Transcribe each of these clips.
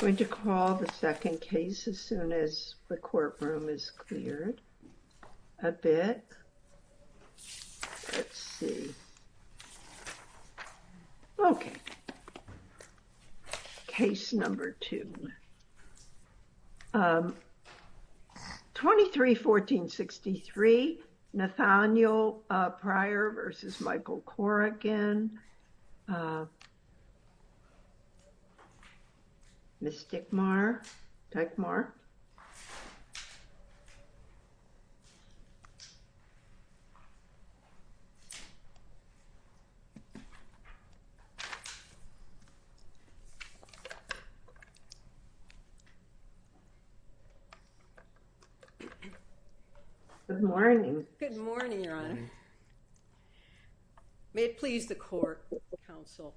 I'm going to call the second case as soon as the courtroom is cleared a bit, let's see. Okay. Case number two. 23-1463 Nathaniel Pryor v. Michael Corrigan. Mr. Dickmar, Dickmar. Good morning. Good morning, your honor. May it please the court, counsel.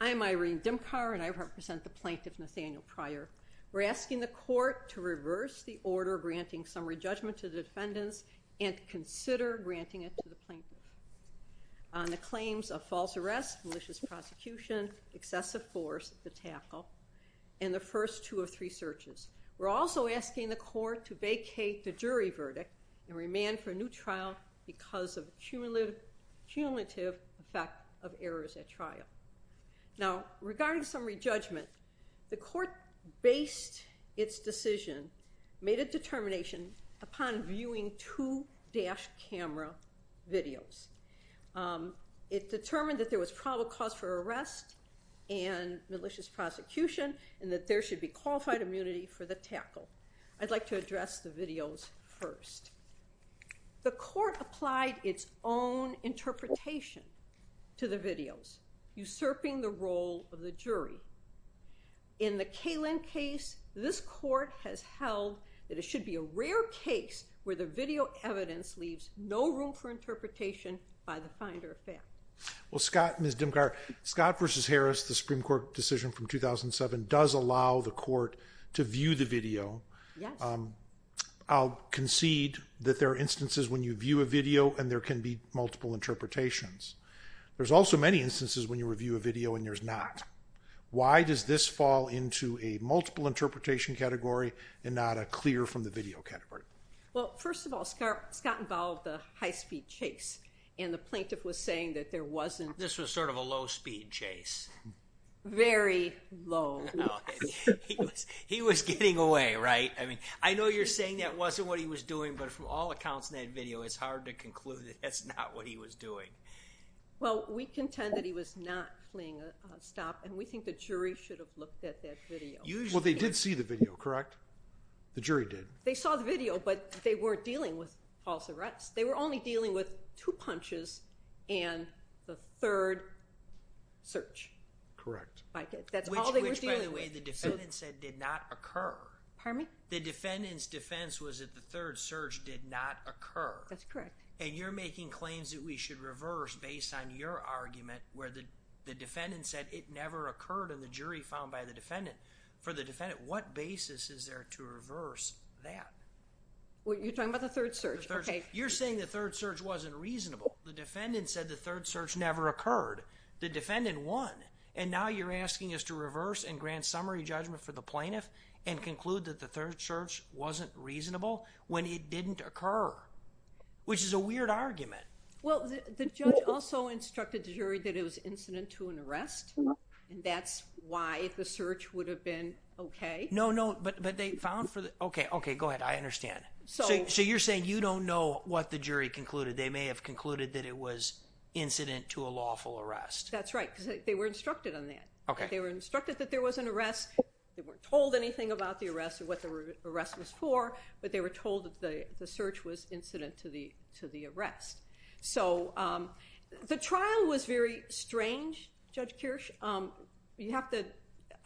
I'm Irene Dimkar and I represent the plaintiff Nathaniel Pryor. We're asking the court to reverse the order granting summary judgment to the defendants and consider granting it to the plaintiff. On the claims of false arrest, malicious prosecution, excessive force at the tackle, and the first two or three searches. We're also asking the court to vacate the jury verdict and remand for a new trial because of cumulative effect of errors at trial. Now, regarding summary judgment, the court based its decision, made a determination upon viewing two dashed camera videos. It determined that there was probable cause for arrest and malicious prosecution and that there should be qualified immunity for the tackle. I'd like to address the videos first. The court applied its own interpretation to the videos, usurping the role of the jury. In the Kalin case, this court has held that it should be a rare case where the video evidence leaves no room for interpretation by the finder of fact. Well, Scott, Ms. Dimkar, Scott v. Harris, the Supreme Court decision from 2007 does allow the court to view the video. I'll concede that there are instances when you view a video and there can be multiple interpretations. There's also many instances when you review a video and there's not. Why does this fall into a multiple interpretation category and not a clear from the video category? Well, first of all, Scott involved a high-speed chase, and the plaintiff was saying that there wasn't... This was sort of a low-speed chase. Very low. He was getting away, right? I mean, I know you're saying that wasn't what he was doing, but from all accounts in that video, it's hard to conclude that that's not what he was doing. Well, we contend that he was not fleeing a stop, and we think the jury should have looked at that video. Well, they did see the video, correct? The jury did. They saw the video, but they weren't dealing with false arrests. They were only dealing with two punches and the third search. Correct. That's all they were dealing with. Which, by the way, the defendant said did not occur. Pardon me? The defendant's defense was that the third search did not occur. That's correct. And you're making claims that we should reverse based on your argument where the defendant said it never occurred in the jury found by the defendant. For the defendant, what basis is there to reverse that? Well, you're talking about the third search. You're saying the third search wasn't reasonable. The defendant said the third search never occurred. The defendant won, and now you're asking us to reverse and grant summary judgment for the plaintiff and conclude that the third search wasn't reasonable when it didn't occur, which is a weird argument. Well, the judge also instructed the jury that it was incident to an arrest, and that's why the search would have been okay. No, no, but they found for the, okay, okay, go ahead. I understand. So you're saying you don't know what the jury concluded. They may have concluded that it was incident to a lawful arrest. That's right, because they were instructed on that. Okay. They were instructed that there was an arrest. They weren't told anything about the arrest or what the arrest was for, but they were told that the search was incident to the arrest. So the trial was very strange, Judge Kirsch. You have to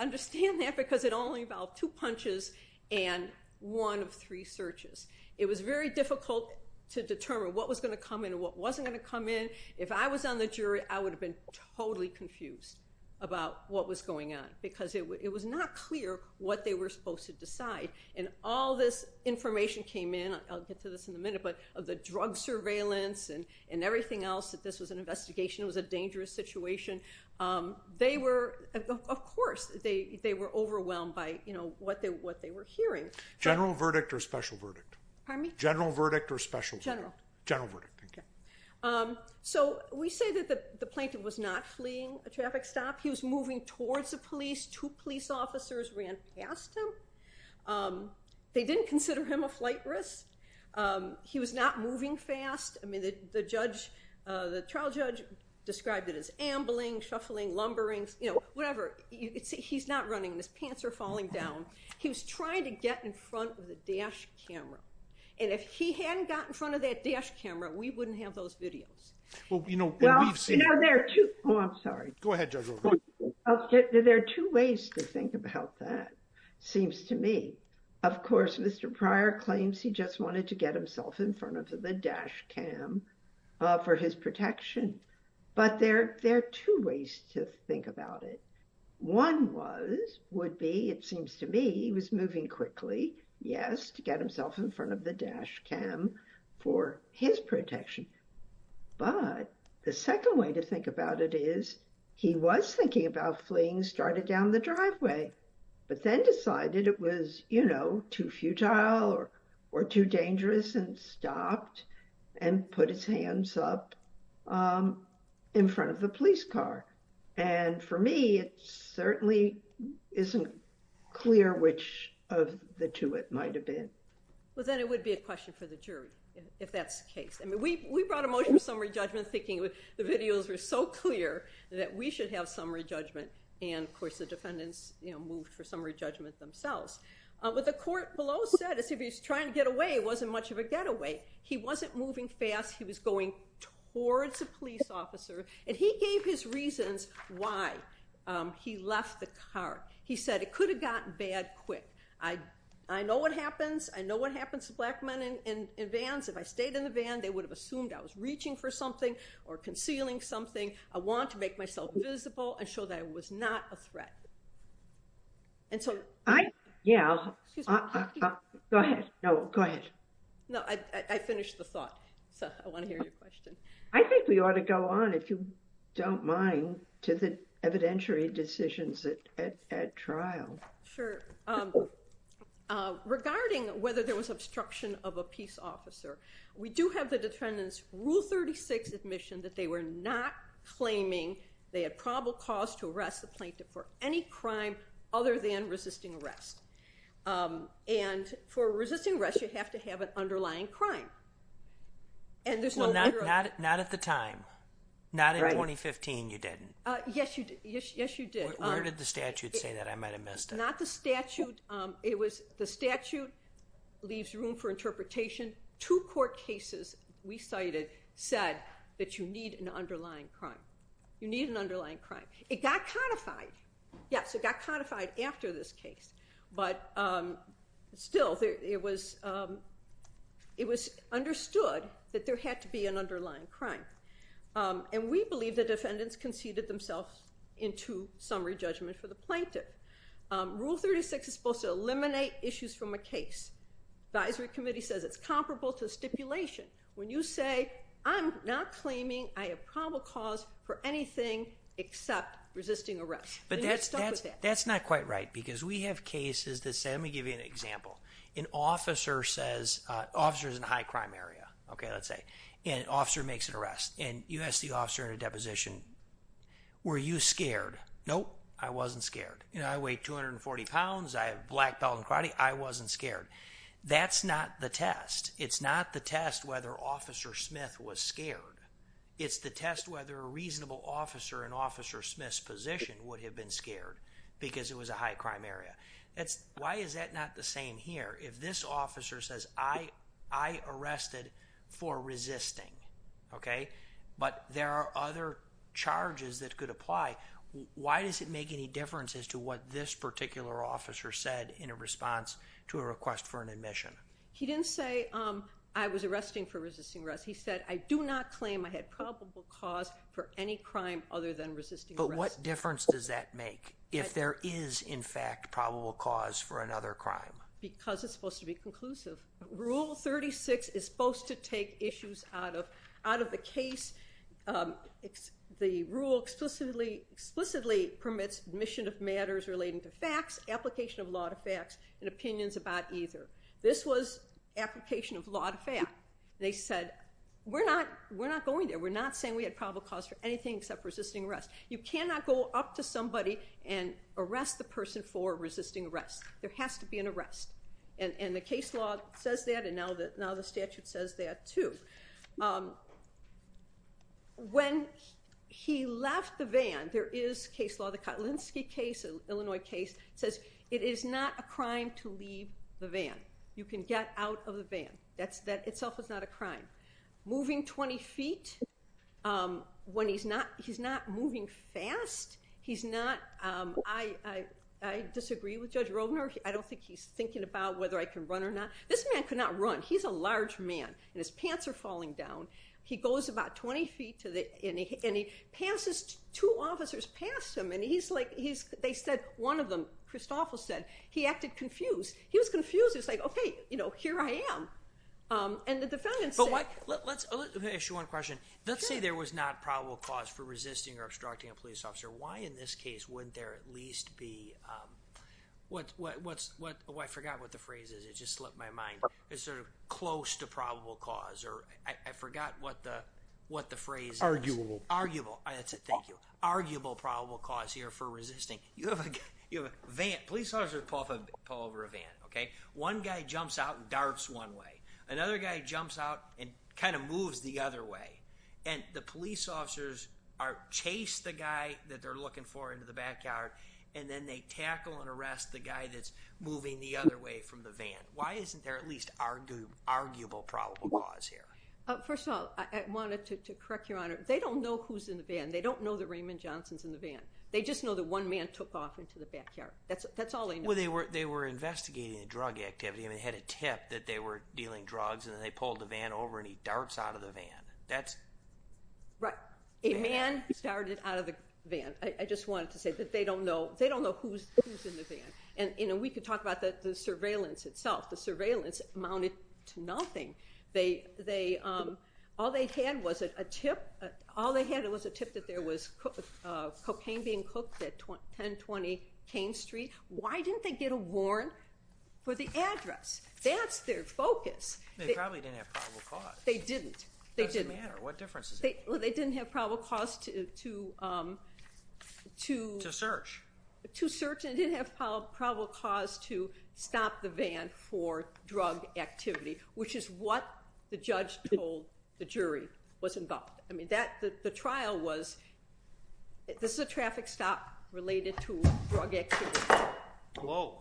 understand that because it only involved two punches and one of three searches. It was very difficult to determine what was going to come in and what wasn't going to come in. If I was on the jury, I would have been totally confused about what was going on because it was not clear what they were supposed to decide, and all this information came in, I'll get to this in a minute, but of the drug surveillance and everything else, that this was an investigation, it was a dangerous situation. They were, of course, they were overwhelmed by what they were hearing. General verdict or special verdict? Pardon me? General verdict or special verdict? General. General verdict. Okay. So we say that the plaintiff was not fleeing a traffic stop. He was moving towards the police. Two police officers ran past him. They didn't consider him a flight risk. He was not moving fast. I mean, the trial judge described it as ambling, shuffling, lumbering, you know, whatever. He's not running. His pants are falling down. He was trying to get in front of the dash camera, and if he hadn't got in front of that dash camera, we wouldn't have those videos. Well, you know, we've seen it. Oh, I'm sorry. Go ahead, Judge. There are two ways to think about that, seems to me. Of course, Mr. Pryor claims he just wanted to get himself in front of the dash cam for his protection, but there are two ways to think about it. One was, would be, it seems to me, he was moving quickly, yes, to get himself in front of the dash cam for his protection. But the second way to think about it is he was thinking about fleeing, started down the driveway, but then decided it was, you know, too futile or too dangerous and stopped and put his hands up in front of the police car. And for me, it certainly isn't clear which of the two it might have been. Well, then it would be a question for the jury if that's the case. I mean, we brought a motion of summary judgment thinking the videos were so clear that we should have summary judgment, and, of course, the defendants moved for summary judgment themselves. What the court below said is if he was trying to get away, it wasn't much of a getaway. He wasn't moving fast. He was going towards a police officer. And he gave his reasons why he left the car. He said it could have gotten bad quick. I know what happens. I know what happens to black men in vans. If I stayed in the van, they would have assumed I was reaching for something or concealing something. I wanted to make myself visible and show that I was not a threat. And so ‑‑ Yeah. Go ahead. No, go ahead. No, I finished the thought. So I want to hear your question. I think we ought to go on, if you don't mind, to the evidentiary decisions at trial. Sure. Regarding whether there was obstruction of a peace officer, we do have the defendant's Rule 36 admission that they were not claiming they had probable cause to arrest the plaintiff for any crime other than resisting arrest. And for resisting arrest, you have to have an underlying crime. Well, not at the time. Not in 2015 you didn't. Yes, you did. Where did the statute say that? I might have missed it. Not the statute. The statute leaves room for interpretation. Two court cases we cited said that you need an underlying crime. You need an underlying crime. It got codified. Yes, it got codified after this case. But still, it was understood that there had to be an underlying crime. And we believe the defendants conceded themselves into summary judgment for the plaintiff. Rule 36 is supposed to eliminate issues from a case. Advisory Committee says it's comparable to stipulation. When you say, I'm not claiming I have probable cause for anything except resisting arrest, then you're stuck with that. That's not quite right because we have cases that say, let me give you an example. An officer is in a high crime area, let's say, and an officer makes an arrest. And you ask the officer in a deposition, were you scared? Nope, I wasn't scared. I weighed 240 pounds. I have black belt in karate. I wasn't scared. That's not the test. It's not the test whether Officer Smith was scared. It's the test whether a reasonable officer in Officer Smith's position would have been scared because it was a high crime area. Why is that not the same here? If this officer says, I arrested for resisting, okay, but there are other charges that could apply, why does it make any difference as to what this particular officer said in response to a request for an admission? He didn't say, I was arresting for resisting arrest. He said, I do not claim I had probable cause for any crime other than resisting arrest. But what difference does that make if there is, in fact, probable cause for another crime? Because it's supposed to be conclusive. Rule 36 is supposed to take issues out of the case. The rule explicitly permits admission of matters relating to facts, application of law to facts, and opinions about either. This was application of law to fact. They said, we're not going there. We're not saying we had probable cause for anything except resisting arrest. You cannot go up to somebody and arrest the person for resisting arrest. There has to be an arrest. And the case law says that, and now the statute says that too. When he left the van, there is case law, the Kotlinski case, an Illinois case, says it is not a crime to leave the van. You can get out of the van. That itself is not a crime. Moving 20 feet, when he's not moving fast, he's not, I disagree with Judge Rogner. I don't think he's thinking about whether I can run or not. This man could not run. He's a large man, and his pants are falling down. He goes about 20 feet, and he passes, two officers pass him, and he's like, they said, one of them, Christoffel said, he acted confused. He was confused. He was like, okay, here I am. Let me ask you one question. Let's say there was not probable cause for resisting or obstructing a police officer. Why in this case wouldn't there at least be, I forgot what the phrase is. It just slipped my mind. It's sort of close to probable cause. I forgot what the phrase is. Arguable. Arguable. That's it. Thank you. Arguable probable cause here for resisting. Police officers pull over a van. One guy jumps out and darts one way. Another guy jumps out and kind of moves the other way. And the police officers chase the guy that they're looking for into the backyard, and then they tackle and arrest the guy that's moving the other way from the van. Why isn't there at least arguable probable cause here? First of all, I wanted to correct Your Honor. They don't know who's in the van. They don't know that Raymond Johnson's in the van. They just know that one man took off into the backyard. That's all they know. Well, they were investigating a drug activity, and they had a tip that they were dealing drugs, and then they pulled the van over and he darts out of the van. Right. A man started out of the van. I just wanted to say that they don't know who's in the van. And we could talk about the surveillance itself. The surveillance amounted to nothing. All they had was a tip that there was cocaine being cooked at 1020 Cain Street. Why didn't they get a warrant for the address? That's their focus. They probably didn't have probable cause. They didn't. It doesn't matter. What difference does it make? They didn't have probable cause to search, and they didn't have probable cause to stop the van for drug activity, which is what the judge told the jury was involved. I mean, the trial was, this is a traffic stop related to drug activity. Whoa.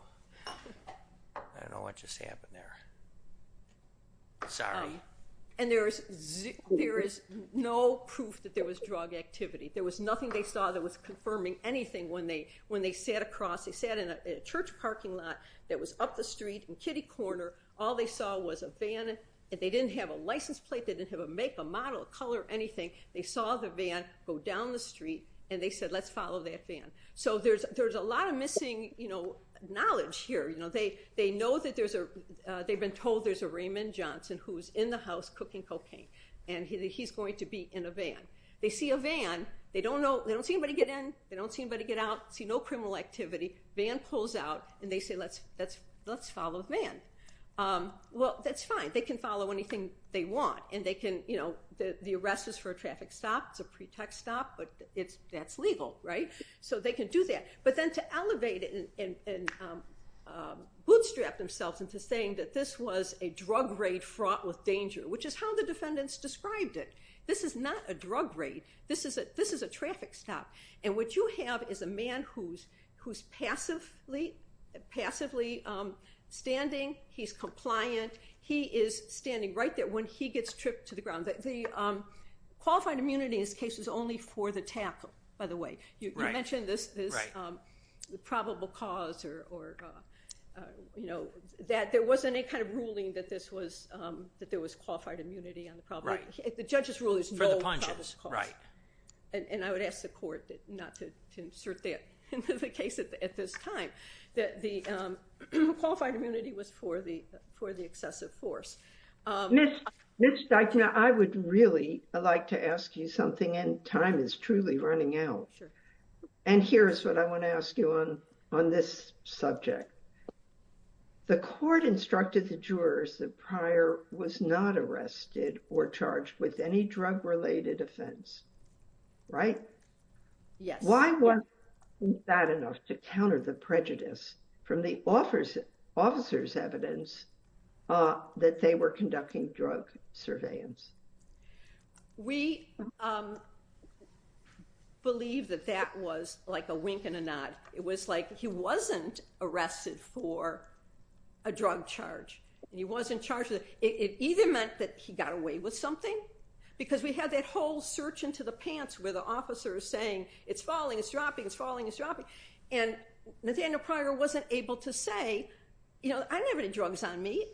I don't know what just happened there. Sorry. And there is no proof that there was drug activity. There was nothing they saw that was confirming anything when they sat across. They sat in a church parking lot that was up the street in Kitty Corner. All they saw was a van, and they didn't have a license plate. They didn't have a make, a model, a color, anything. They saw the van go down the street, and they said, let's follow that van. So there's a lot of missing knowledge here. They know that there's a, they've been told there's a Raymond Johnson who's in the house cooking cocaine, and he's going to be in a van. They see a van. They don't know, they don't see anybody get in. They don't see anybody get out, see no criminal activity. Van pulls out, and they say, let's follow the van. Well, that's fine. They can follow anything they want, and they can, the arrest is for a traffic stop. It's a pretext stop, but that's legal, right? So they can do that, but then to elevate it and bootstrap themselves into saying that this was a drug raid fraught with danger, which is how the defendants described it. This is not a drug raid. This is a traffic stop, and what you have is a man who's passively standing. He's compliant. He is standing right there when he gets tripped to the ground. The qualified immunity in this case is only for the tackle, by the way. You mentioned this probable cause or, you know, that there wasn't any kind of ruling that this was, that there was qualified immunity on the probable. The judge's rule is no probable cause. And I would ask the court not to insert that into the case at this time. The qualified immunity was for the excessive force. Ms. Steichner, I would really like to ask you something, and time is truly running out. Sure. And here's what I want to ask you on this subject. The court instructed the jurors that Pryor was not arrested or charged with any drug-related offense, right? Yes. Why was that enough to counter the prejudice from the officer's evidence that they were conducting drug surveillance? We believe that that was like a wink and a nod. It was like he wasn't arrested for a drug charge, and he wasn't charged with it. It either meant that he got away with something, because we had that whole search into the pants where the officer is saying, it's falling, it's dropping, it's falling, it's dropping. And Nathaniel Pryor wasn't able to say, you know, I didn't have any drugs on me.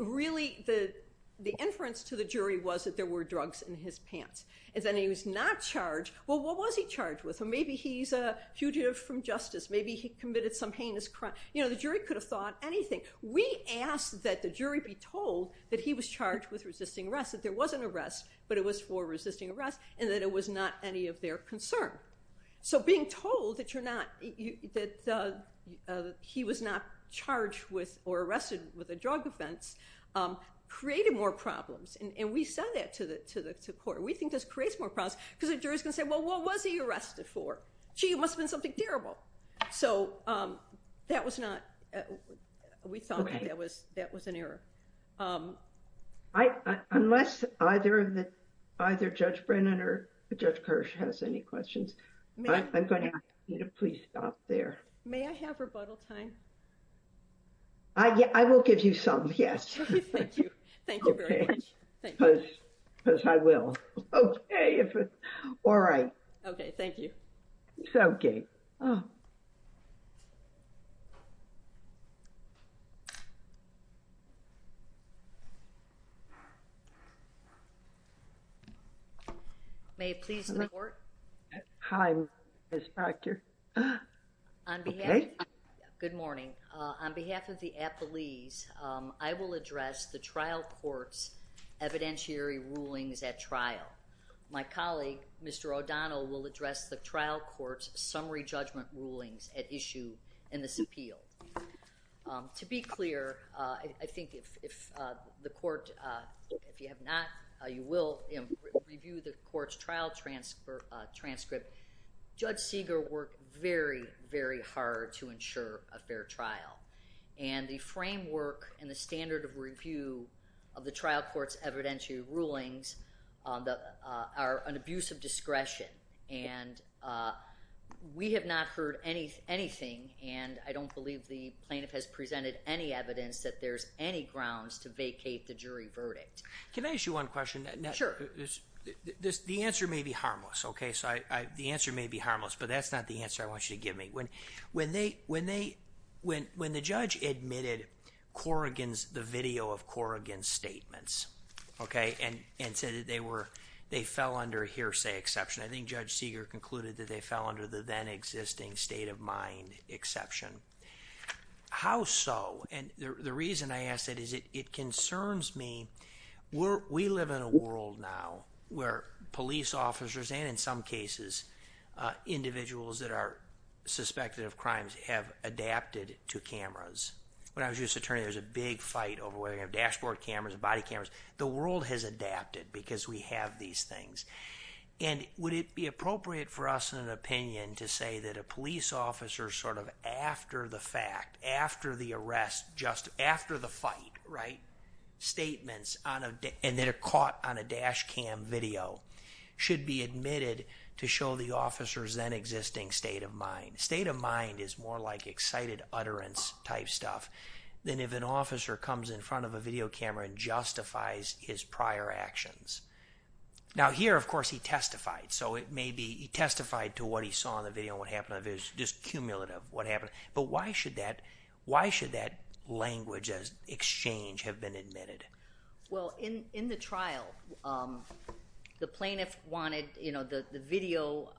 Really, the inference to the jury was that there were drugs in his pants. And then he was not charged. Well, what was he charged with? Maybe he's a fugitive from justice. Maybe he committed some heinous crime. You know, the jury could have thought anything. We asked that the jury be told that he was charged with resisting arrest, that there was an arrest, but it was for resisting arrest, and that it was not any of their concern. So being told that you're not, that he was not charged with or arrested with a drug offense, created more problems. And we said that to the court. We think this creates more problems, because the jury is going to say, well, what was he arrested for? Gee, it must have been something terrible. So that was not, we thought that that was an error. Unless either Judge Brennan or Judge Kirsch has any questions, I'm going to ask you to please stop there. May I have rebuttal time? I will give you some, yes. Okay, thank you. Thank you very much. Because I will. Okay. All right. Okay, thank you. It's okay. Oh. May it please the court? Hi, Ms. Proctor. Okay. Good morning. On behalf of the appellees, I will address the trial court's evidentiary rulings at trial. My colleague, Mr. O'Donnell, will address the trial court's summary judgment rulings at issue in this appeal. To be clear, I think if the court, if you have not, you will review the court's trial transcript. Judge Seeger worked very, very hard to ensure a fair trial. And the framework and the standard of review of the trial court's evidentiary rulings are an abuse of discretion. And we have not heard anything, and I don't believe the plaintiff has presented any evidence that there's any grounds to vacate the jury verdict. Can I ask you one question? Sure. The answer may be harmless, okay? So the answer may be harmless, but that's not the answer I want you to give me. When the judge admitted Corrigan's, the video of Corrigan's statements, okay? And said that they were, they fell under hearsay exception. I think Judge Seeger concluded that they fell under the then existing state of mind exception. How so? And the reason I ask that is it concerns me. We live in a world now where police officers, and in some cases, individuals that are suspected of crimes have adapted to cameras. When I was a judge's attorney, there was a big fight over whether you're going to have dashboard cameras, body cameras. The world has adapted because we have these things. And would it be appropriate for us in an opinion to say that a police officer sort of after the fact, after the arrest, just after the fight, right? Statements on a day, and they're caught on a dash cam video should be admitted to show the officer's then existing state of mind. State of mind is more like excited utterance type stuff than if an officer comes in front of a video camera and justifies his prior actions. Now here, of course, he testified. So it may be, he testified to what he saw in the video and what happened in the video, just cumulative what happened. But why should that, why should that language as exchange have been admitted? Well, in, in the trial, the plaintiff wanted, you know, the video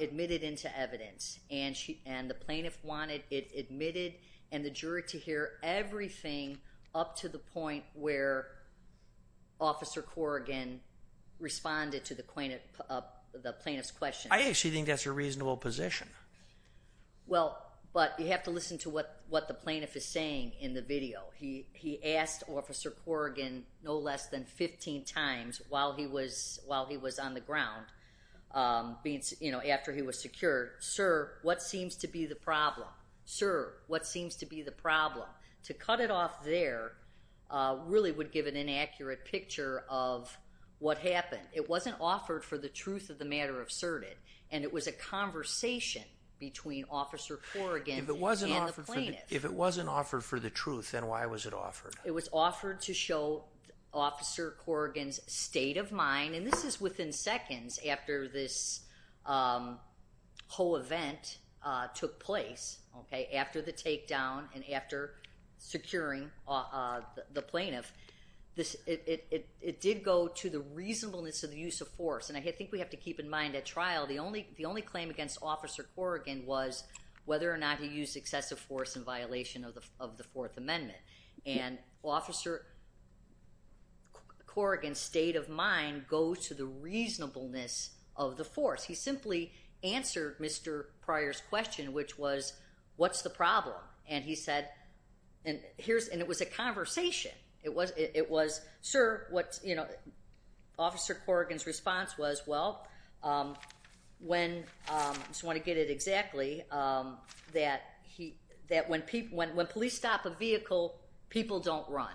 admitted into evidence and she, and the plaintiff wanted it admitted and the jury to hear everything up to the point where officer Corrigan responded to the plaintiff, the plaintiff's question. I actually think that's a reasonable position. Well, but you have to listen to what, what the plaintiff is saying in the video. He, he asked officer Corrigan no less than 15 times while he was, while he was on the ground being, you know, after he was secured, sir, what seems to be the problem, sir? What seems to be the problem to cut it off there really would give an inaccurate picture of what happened. It wasn't offered for the truth of the matter of cert it. And it was a conversation between officer Corrigan and the plaintiff. If it wasn't offered for the truth, then why was it offered? It was offered to show officer Corrigan's state of mind. And this is within seconds after this whole event took place. Okay. After the takedown and after securing the plaintiff, this, it, it did go to the reasonableness of the use of force. And I think we have to keep in mind at trial, the only, the only claim against officer Corrigan was whether or not he used excessive force in violation of the, of the fourth amendment. And officer Corrigan's state of mind goes to the reasonableness of the force. He simply answered Mr. Pryor's question, which was, what's the problem? And he said, and here's, and it was a conversation. It was, it was, sir, what, you know, officer Corrigan's response was, well, when, just want to get it exactly, that he, that when people, when you stop a vehicle, people don't run.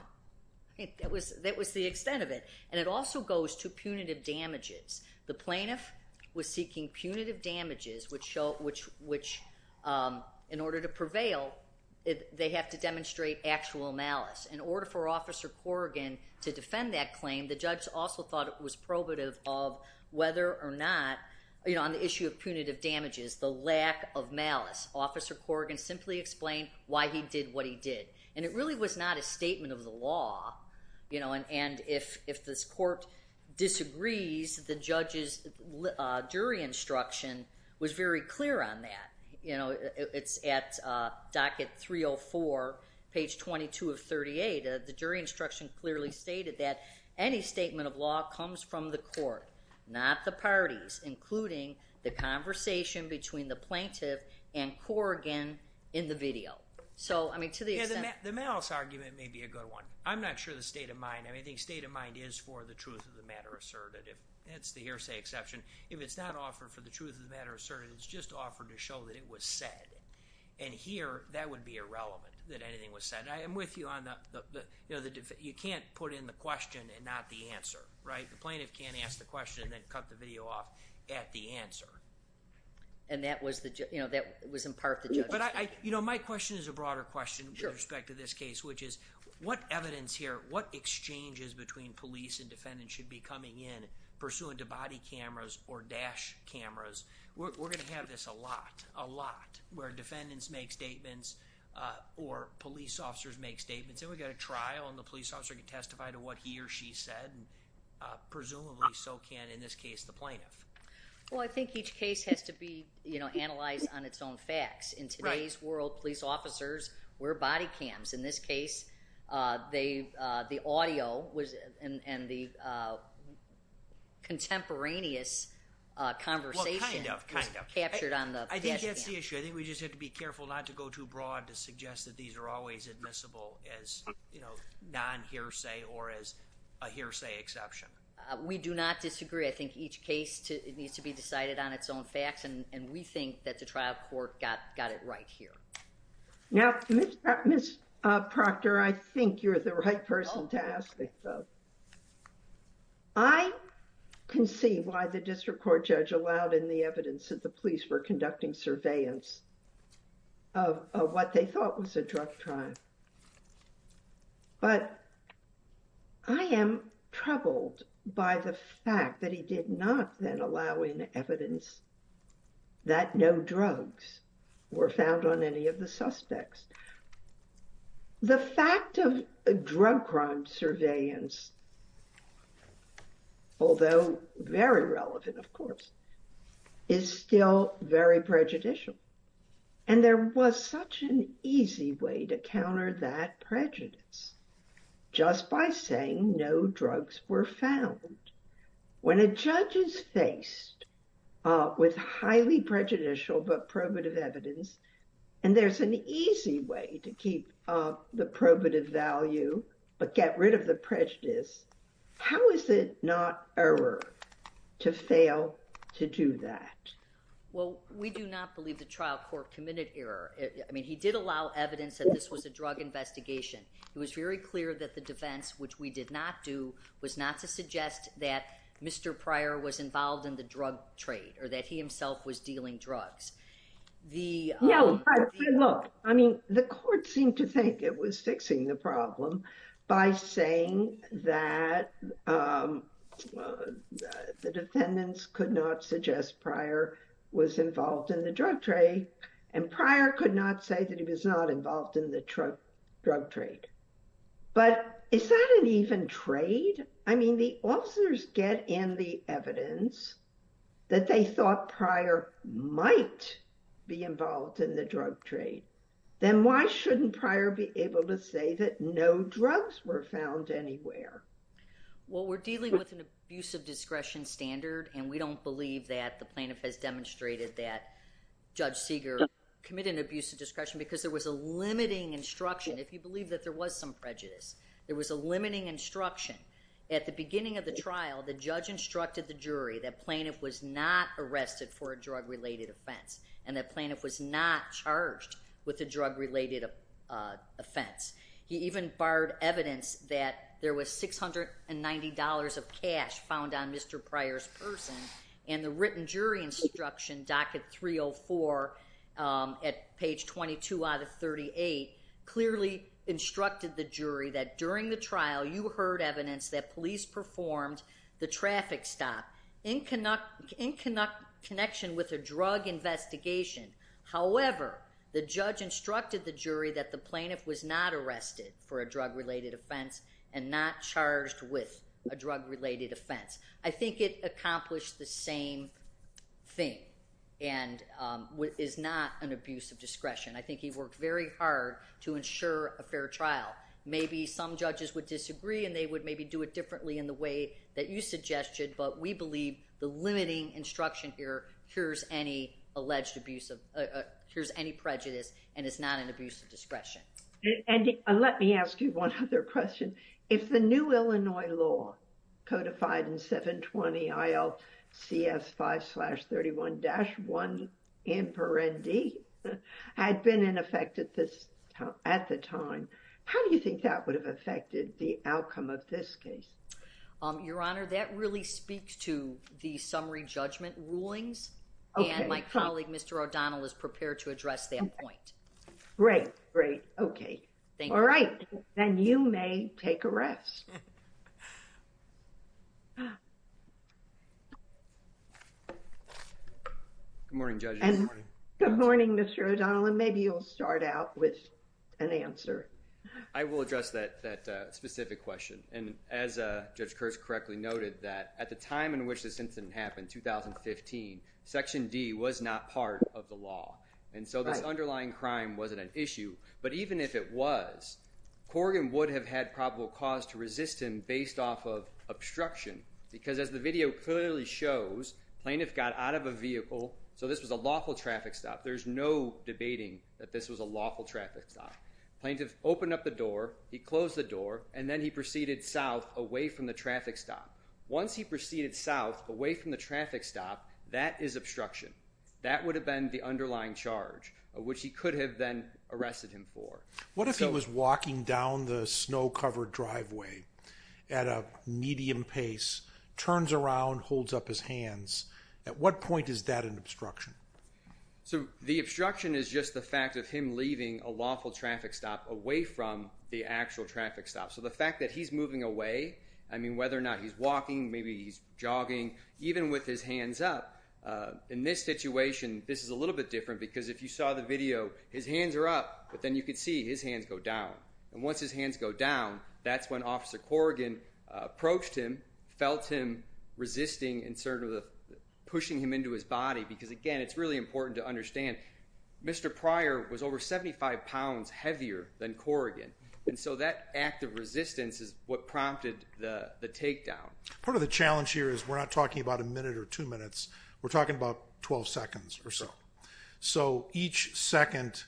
That was, that was the extent of it. And it also goes to punitive damages. The plaintiff was seeking punitive damages, which show, which, which in order to prevail, they have to demonstrate actual malice. In order for officer Corrigan to defend that claim, the judge also thought it was probative of whether or not, you know, on the issue of punitive damages, the lack of malice. Officer Corrigan simply explained why he did what he did. And it really was not a statement of the law, you know, and if this court disagrees, the judge's jury instruction was very clear on that. You know, it's at docket 304, page 22 of 38, the jury instruction clearly stated that any statement of law comes from the court, not the parties, including the conversation between the plaintiff and Corrigan in the video. So, I mean, to the extent- Yeah, the malice argument may be a good one. I'm not sure the state of mind, I mean, the state of mind is for the truth of the matter asserted. If that's the hearsay exception, if it's not offered for the truth of the matter asserted, it's just offered to show that it was said. And here, that would be irrelevant, that anything was said. I am with you on the, you know, the, you can't put in the question and not the answer, right? The plaintiff can't ask the question and then cut the video off at the answer. And that was the, you know, that was in part the judge's- But I, you know, my question is a broader question with respect to this case, which is what evidence here, what exchanges between police and defendants should be coming in pursuant to body cameras or dash cameras? We're going to have this a lot, a lot, where defendants make statements or police officers make statements, and we've got a trial and the police officer can testify to what he or she said, and presumably so can, in this case, the plaintiff. Well, I think each case has to be, you know, analyzed on its own facts. In today's world, police officers wear body cams. In this case, they, the audio was, and the contemporaneous conversation was captured on the dash cam. Well, kind of, kind of. I think that's the issue. I think we just have to be careful not to go too broad to suggest that these are always admissible as, you know, non-hearsay or as a hearsay exception. We do not disagree. I think each case needs to be decided on its own facts, and we think that the trial court got it right here. Now, Ms. Proctor, I think you're the right person to ask this. I can see why the district court judge allowed in the evidence that the drug crime. But I am troubled by the fact that he did not then allow in evidence that no drugs were found on any of the suspects. The fact of drug crime surveillance, although very relevant, of course, is still very prejudicial. And there was such an easy way to counter that prejudice, just by saying no drugs were found. When a judge is faced with highly prejudicial but probative evidence, and there's an easy way to keep the probative value but get rid of the prejudice, how is it not error to fail to do that? Well, we do not believe the trial court committed error. I mean, he did allow evidence that this was a drug investigation. It was very clear that the defense, which we did not do, was not to suggest that Mr. Pryor was involved in the drug trade, or that he himself was dealing drugs. No, look, I mean, the court seemed to think it was fixing the problem by saying that the officer was involved in the drug trade, and Pryor could not say that he was not involved in the drug trade. But is that an even trade? I mean, the officers get in the evidence that they thought Pryor might be involved in the drug trade. Then why shouldn't Pryor be able to say that no drugs were found anywhere? Well, we're dealing with an abuse of discretion standard, and we don't believe that the plaintiff has demonstrated that Judge Seeger committed an abuse of discretion because there was a limiting instruction. If you believe that there was some prejudice, there was a limiting instruction. At the beginning of the trial, the judge instructed the jury that plaintiff was not arrested for a drug-related offense, and that plaintiff was not charged with a drug-related offense. He even barred evidence that there was $690 of cash found on Mr. Pryor's person, and the written jury instruction, docket 304 at page 22 out of 38, clearly instructed the jury that during the trial you heard evidence that police performed the traffic stop in connection with a drug investigation. However, the judge instructed the jury that the plaintiff was not arrested for a drug-related offense and not charged with a drug-related offense. I think it accomplished the same thing and is not an abuse of discretion. I think he worked very hard to ensure a fair trial. Maybe some judges would disagree, and they would maybe do it differently in the way that you suggested, but we believe the limiting instruction here cures any alleged abuse of – cures any prejudice, and it's not an abuse of discretion. And let me ask you one other question. If the new Illinois law codified in 720 ILCS 5-31-1 had been in effect at the time, how do you think that would have affected the outcome of this case? Your Honor, that really speaks to the summary judgment rulings, and my colleague Mr. O'Donnell is prepared to address that point. Great, great. Okay. Thank you. All right, then you may take a rest. Good morning, Judge. Good morning. Good morning, Mr. O'Donnell, and maybe you'll start out with an answer. I will address that specific question. And as Judge Kerr correctly noted, that at the time in which this incident happened, 2015, Section D was not part of the law. And so this underlying crime wasn't an issue, but even if it was, Corrigan would have had probable cause to resist him based off of obstruction, because as the video clearly shows, plaintiff got out of a vehicle, so this was a lawful traffic stop. There's no debating that this was a lawful traffic stop. Plaintiff opened up the door, he closed the door, and then he proceeded south away from the traffic stop. Once he proceeded south away from the traffic stop, that is obstruction. That would have been the underlying charge, which he could have then arrested him for. What if he was walking down the snow-covered driveway at a medium pace, turns around, holds up his hands? At what point is that an obstruction? So the obstruction is just the fact of him leaving a lawful traffic stop away from the actual traffic stop. So the fact that he's moving away, I mean, whether or not he's walking, maybe he's jogging, even with his hands up, in this situation, this is a little bit different, because if you saw the video, his hands are up, but then you could see his hands go down. And once his hands go down, that's when Officer Corrigan approached him, felt him resisting and sort of pushing him into his body, because, again, it's really important to understand, Mr. Pryor was over 75 pounds heavier than Corrigan, and so that act of resistance is what prompted the takedown. Part of the challenge here is we're not talking about a minute or two minutes. We're talking about 12 seconds or so. So each second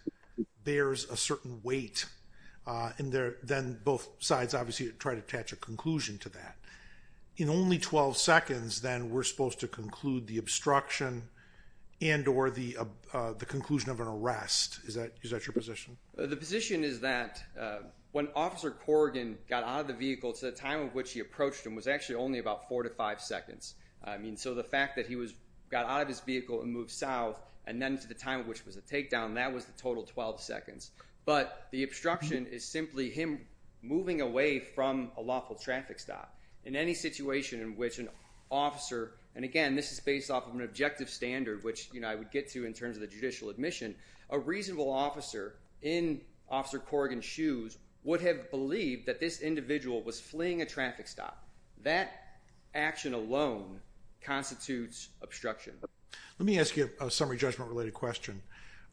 bears a certain weight, and then both sides obviously try to attach a conclusion to that. In only 12 seconds, then, we're supposed to conclude the obstruction and or the conclusion of an arrest. Is that your position? The position is that when Officer Corrigan got out of the vehicle, the time at which he approached him was actually only about four to five seconds. I mean, so the fact that he got out of his vehicle and moved south, and then to the time at which it was a takedown, that was the total 12 seconds. But the obstruction is simply him moving away from a lawful traffic stop. In any situation in which an officer, and, again, this is based off of an objective standard, which I would get to in terms of the judicial admission, a reasonable officer in Officer Corrigan's shoes would have believed that this individual was fleeing a traffic stop. That action alone constitutes obstruction. Let me ask you a summary judgment-related question.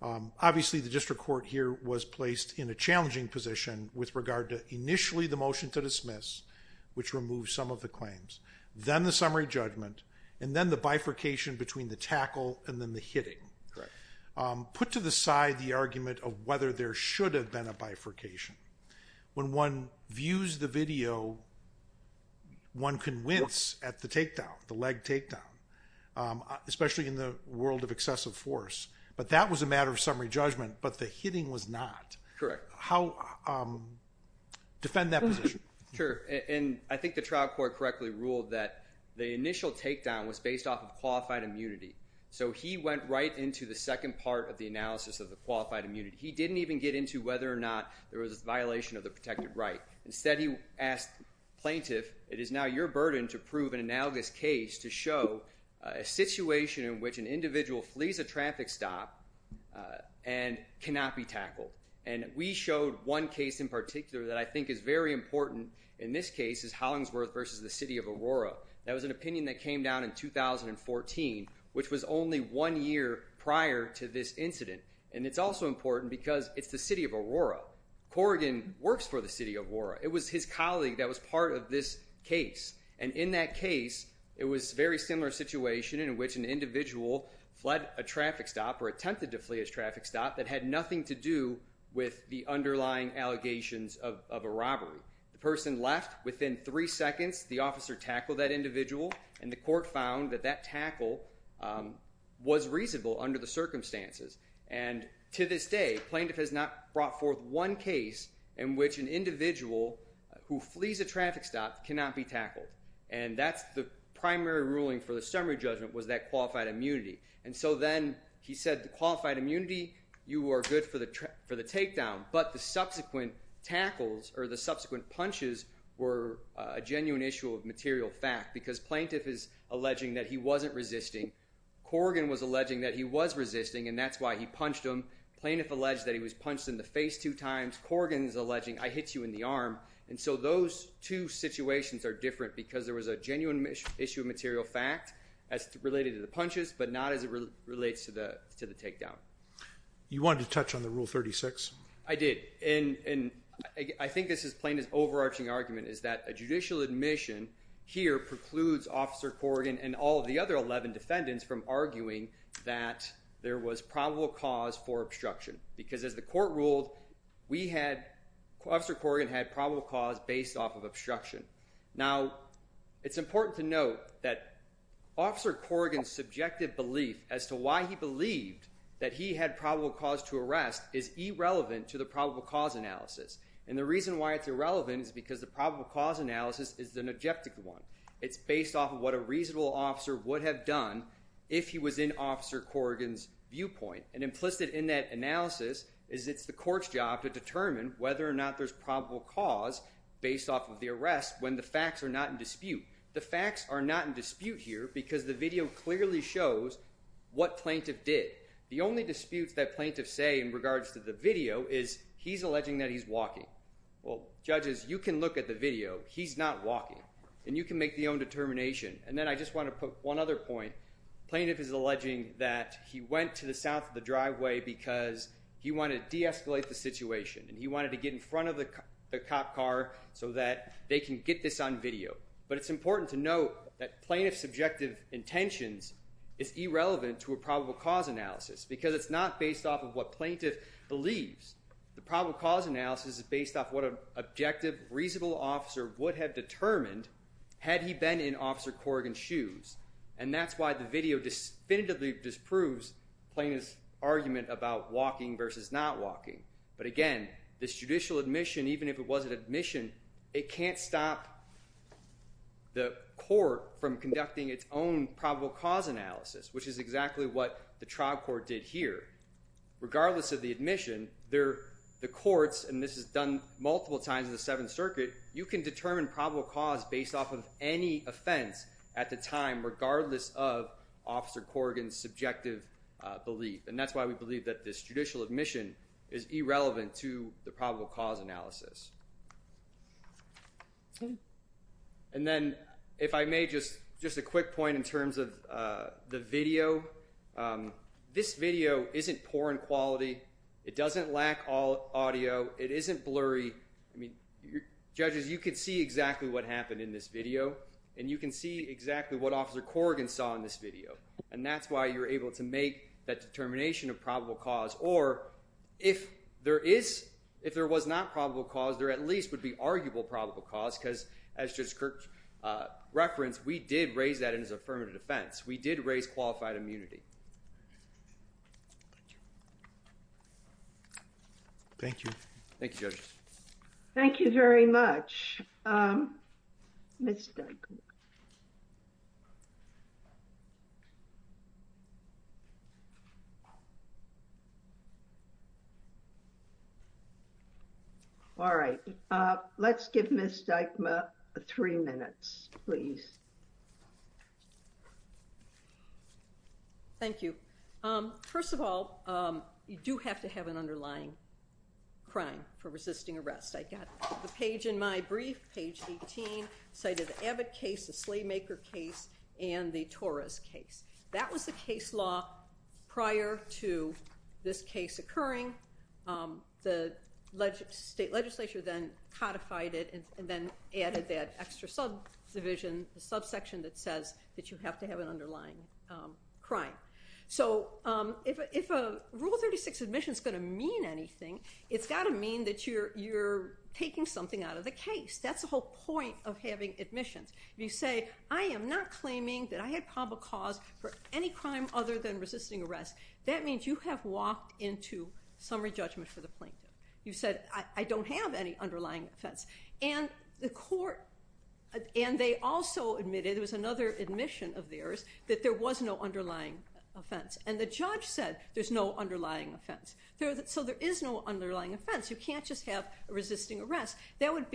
Obviously, the district court here was placed in a challenging position with regard to initially the motion to dismiss, which removes some of the claims, then the summary judgment, and then the bifurcation between the tackle and then the hitting. Correct. Put to the side the argument of whether there should have been a bifurcation. When one views the video, one can wince at the takedown, the leg takedown, especially in the world of excessive force. But that was a matter of summary judgment, but the hitting was not. Correct. Defend that position. Sure. And I think the trial court correctly ruled that the initial takedown was based off of qualified immunity. So he went right into the second part of the analysis of the qualified immunity. He didn't even get into whether or not there was a violation of the protected right. Instead, he asked plaintiff, it is now your burden to prove an analogous case to show a situation in which an individual flees a traffic stop and cannot be tackled. And we showed one case in particular that I think is very important. In this case, it's Hollingsworth versus the city of Aurora. That was an opinion that came down in 2014, which was only one year prior to this incident. And it's also important because it's the city of Aurora. Corrigan works for the city of Aurora. It was his colleague that was part of this case. And in that case, it was a very similar situation in which an individual fled a traffic stop or attempted to flee a traffic stop that had nothing to do with the underlying allegations of a robbery. The person left. Within three seconds, the officer tackled that individual, and the court found that that tackle was reasonable under the circumstances. And to this day, plaintiff has not brought forth one case in which an individual who flees a traffic stop cannot be tackled. And that's the primary ruling for the summary judgment was that qualified immunity. And so then he said the qualified immunity, you are good for the takedown. But the subsequent tackles or the subsequent punches were a genuine issue of material fact because plaintiff is alleging that he wasn't resisting. Corrigan was alleging that he was resisting, and that's why he punched him. Plaintiff alleged that he was punched in the face two times. Corrigan is alleging, I hit you in the arm. And so those two situations are different because there was a genuine issue of material fact as related to the punches but not as it relates to the takedown. You wanted to touch on the Rule 36. I did, and I think this is plaintiff's overarching argument is that a judicial admission here precludes Officer Corrigan and all of the other 11 defendants from arguing that there was probable cause for obstruction because as the court ruled, Officer Corrigan had probable cause based off of obstruction. Now, it's important to note that Officer Corrigan's subjective belief as to why he believed that he had probable cause to arrest is irrelevant to the probable cause analysis. And the reason why it's irrelevant is because the probable cause analysis is an objective one. It's based off of what a reasonable officer would have done if he was in Officer Corrigan's viewpoint. And implicit in that analysis is it's the court's job to determine whether or not there's probable cause based off of the arrest when the facts are not in dispute. The facts are not in dispute here because the video clearly shows what plaintiff did. The only disputes that plaintiff say in regards to the video is he's alleging that he's walking. Well, judges, you can look at the video. He's not walking. And you can make the own determination. And then I just want to put one other point. Plaintiff is alleging that he went to the south of the driveway because he wanted to deescalate the situation and he wanted to get in front of the cop car so that they can get this on video. But it's important to note that plaintiff's subjective intentions is irrelevant to a probable cause analysis because it's not based off of what plaintiff believes. The probable cause analysis is based off what an objective, reasonable officer would have determined had he been in Officer Corrigan's shoes. And that's why the video definitively disproves plaintiff's argument about walking versus not walking. But again, this judicial admission, even if it wasn't admission, it can't stop the court from conducting its own probable cause analysis, which is exactly what the trial court did here. Regardless of the admission, the courts, and this is done multiple times in the Seventh Circuit, you can determine probable cause based off of any offense at the time regardless of Officer Corrigan's subjective belief. And that's why we believe that this judicial admission is irrelevant to the probable cause analysis. And then if I may, just a quick point in terms of the video. This video isn't poor in quality. It doesn't lack audio. It isn't blurry. Judges, you can see exactly what happened in this video, and you can see exactly what Officer Corrigan saw in this video. And that's why you're able to make that determination of probable cause, or if there was not probable cause, there at least would be arguable probable cause, because as Judge Kirk referenced, we did raise that in his affirmative defense. We did raise qualified immunity. Thank you. Thank you, Judge. Thank you very much. Ms. Dykma. All right. Let's give Ms. Dykma three minutes, please. Thank you. First of all, you do have to have an underlying crime for resisting arrest. I got the page in my brief, page 18, cited the Abbott case, the Slaymaker case, and the Torres case. That was the case law prior to this case occurring. The state legislature then codified it and then added that extra subdivision, the subsection that says that you have to have an underlying crime. So if a Rule 36 admission is going to mean anything, it's got to mean that you're taking something out of the case. That's the whole point of having admissions. If you say, I am not claiming that I had probable cause for any crime other than resisting arrest, that means you have walked into summary judgment for the plaintiff. You said, I don't have any underlying offense. And the court, and they also admitted, there was another admission of theirs, that there was no underlying offense. And the judge said there's no underlying offense. So there is no underlying offense. You can't just have resisting arrest. That would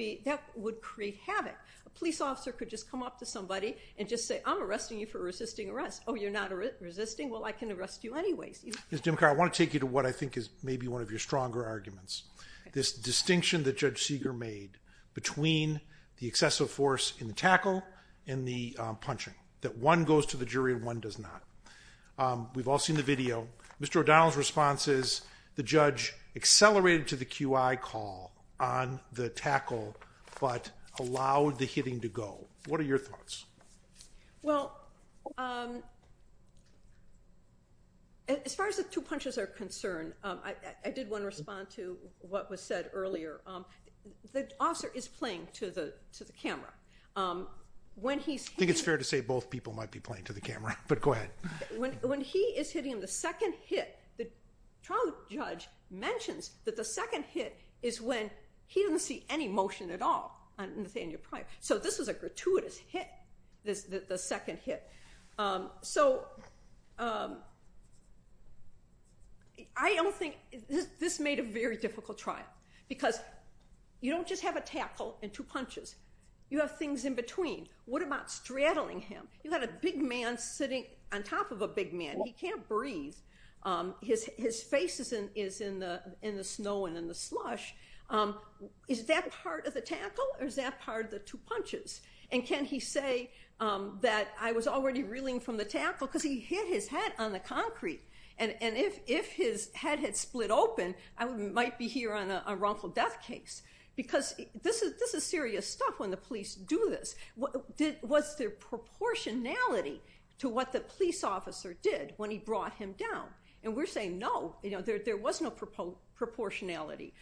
create havoc. A police officer could just come up to somebody and just say, I'm arresting you for resisting arrest. Oh, you're not resisting? Well, I can arrest you anyways. Ms. Dimacar, I want to take you to what I think is maybe one of your stronger arguments, this distinction that Judge Seeger made between the excessive force in the tackle and the punching, that one goes to the jury and one does not. We've all seen the video. Mr. O'Donnell's response is the judge accelerated to the QI call on the tackle, but allowed the hitting to go. What are your thoughts? Well, as far as the two punches are concerned, I did want to respond to what was said earlier. The officer is playing to the camera. I think it's fair to say both people might be playing to the camera, but go ahead. When he is hitting him, the second hit, the trial judge mentions that the second hit is when he didn't see any motion at all on Nathaniel Pryor. So this was a gratuitous hit, the second hit. So I don't think this made a very difficult trial because you don't just have a tackle and two punches. You have things in between. What about straddling him? You've got a big man sitting on top of a big man. He can't breathe. His face is in the snow and in the slush. Is that part of the tackle or is that part of the two punches? And can he say that I was already reeling from the tackle because he hit his head on the concrete. And if his head had split open, I might be here on a wrongful death case because this is serious stuff when the police do this. Was there proportionality to what the police officer did when he brought him down? And we're saying no, there was no proportionality.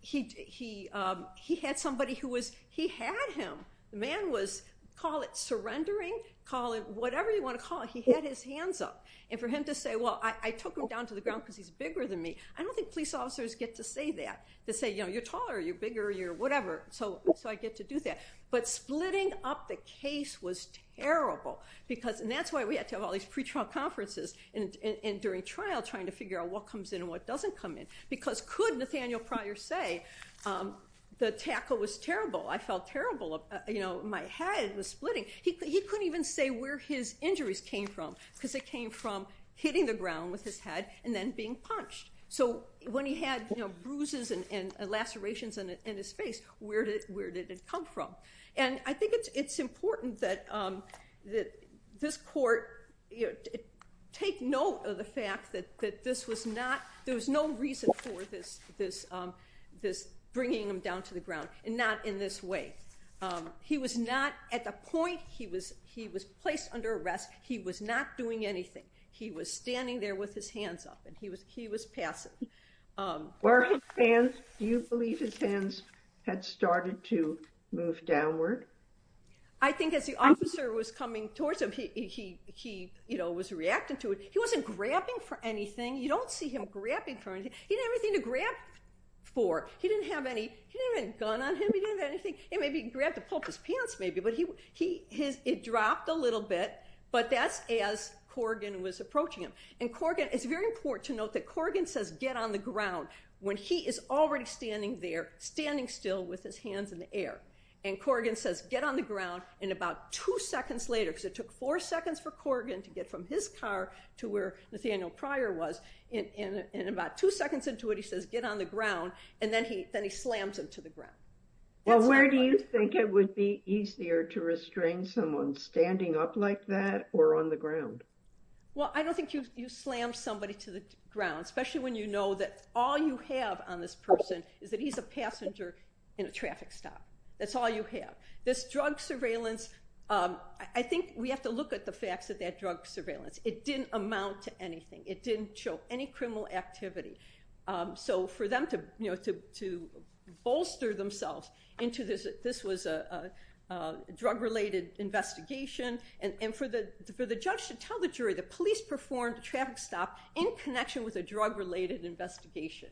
He had somebody who was, he had him. The man was, call it surrendering, call it whatever you want to call it, he had his hands up. And for him to say, well, I took him down to the ground because he's bigger than me, I don't think police officers get to say that, to say you're taller or you're bigger or you're whatever. So I get to do that. But splitting up the case was terrible because, and that's why we had to have all these pre-trial conferences and during trial trying to figure out what comes in and what doesn't come in. Because could Nathaniel Pryor say the tackle was terrible, I felt terrible, my head was splitting. He couldn't even say where his injuries came from because it came from hitting the ground with his head and then being punched. So when he had bruises and lacerations in his face, where did it come from? And I think it's important that this court take note of the fact that this was not, there was no reason for this bringing him down to the ground, and not in this way. He was not, at the point he was placed under arrest, he was not doing anything. He was standing there with his hands up and he was passive. Were his hands, do you believe his hands had started to move downward? I think as the officer was coming towards him, he was reacting to it. He wasn't grabbing for anything. You don't see him grabbing for anything. He didn't have anything to grab for. He didn't have any, he didn't have any gun on him, he didn't have anything. Maybe he grabbed to pull up his pants maybe. It dropped a little bit, but that's as Corrigan was approaching him. And Corrigan, it's very important to note that Corrigan says get on the ground when he is already standing there, standing still with his hands in the air. And Corrigan says get on the ground, and about two seconds later, because it took four seconds for Corrigan to get from his car to where Nathaniel Pryor was, and about two seconds into it he says get on the ground, and then he slams him to the ground. Well, where do you think it would be easier to restrain someone, standing up like that or on the ground? Well, I don't think you slam somebody to the ground, especially when you know that all you have on this person is that he's a passenger in a traffic stop. That's all you have. This drug surveillance, I think we have to look at the facts of that drug surveillance. It didn't amount to anything. It didn't show any criminal activity. So for them to bolster themselves into this was a drug-related investigation, and for the judge to tell the jury the police performed a traffic stop in connection with a drug-related investigation,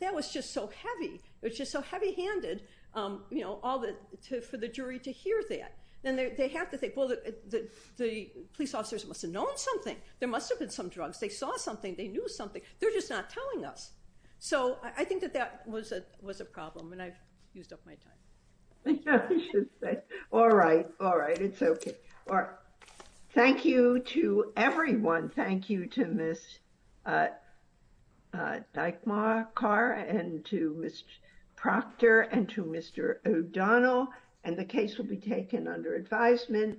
that was just so heavy. It was just so heavy-handed for the jury to hear that. Then they have to think, well, the police officers must have known something. There must have been some drugs. They saw something. They knew something. They're just not telling us. So I think that that was a problem, and I've used up my time. Thank you. I should say. All right. All right. It's okay. Thank you to everyone. Thank you to Ms. Dykmaar-Karr and to Ms. Proctor and to Mr. O'Donnell, and the case will be taken under advisement.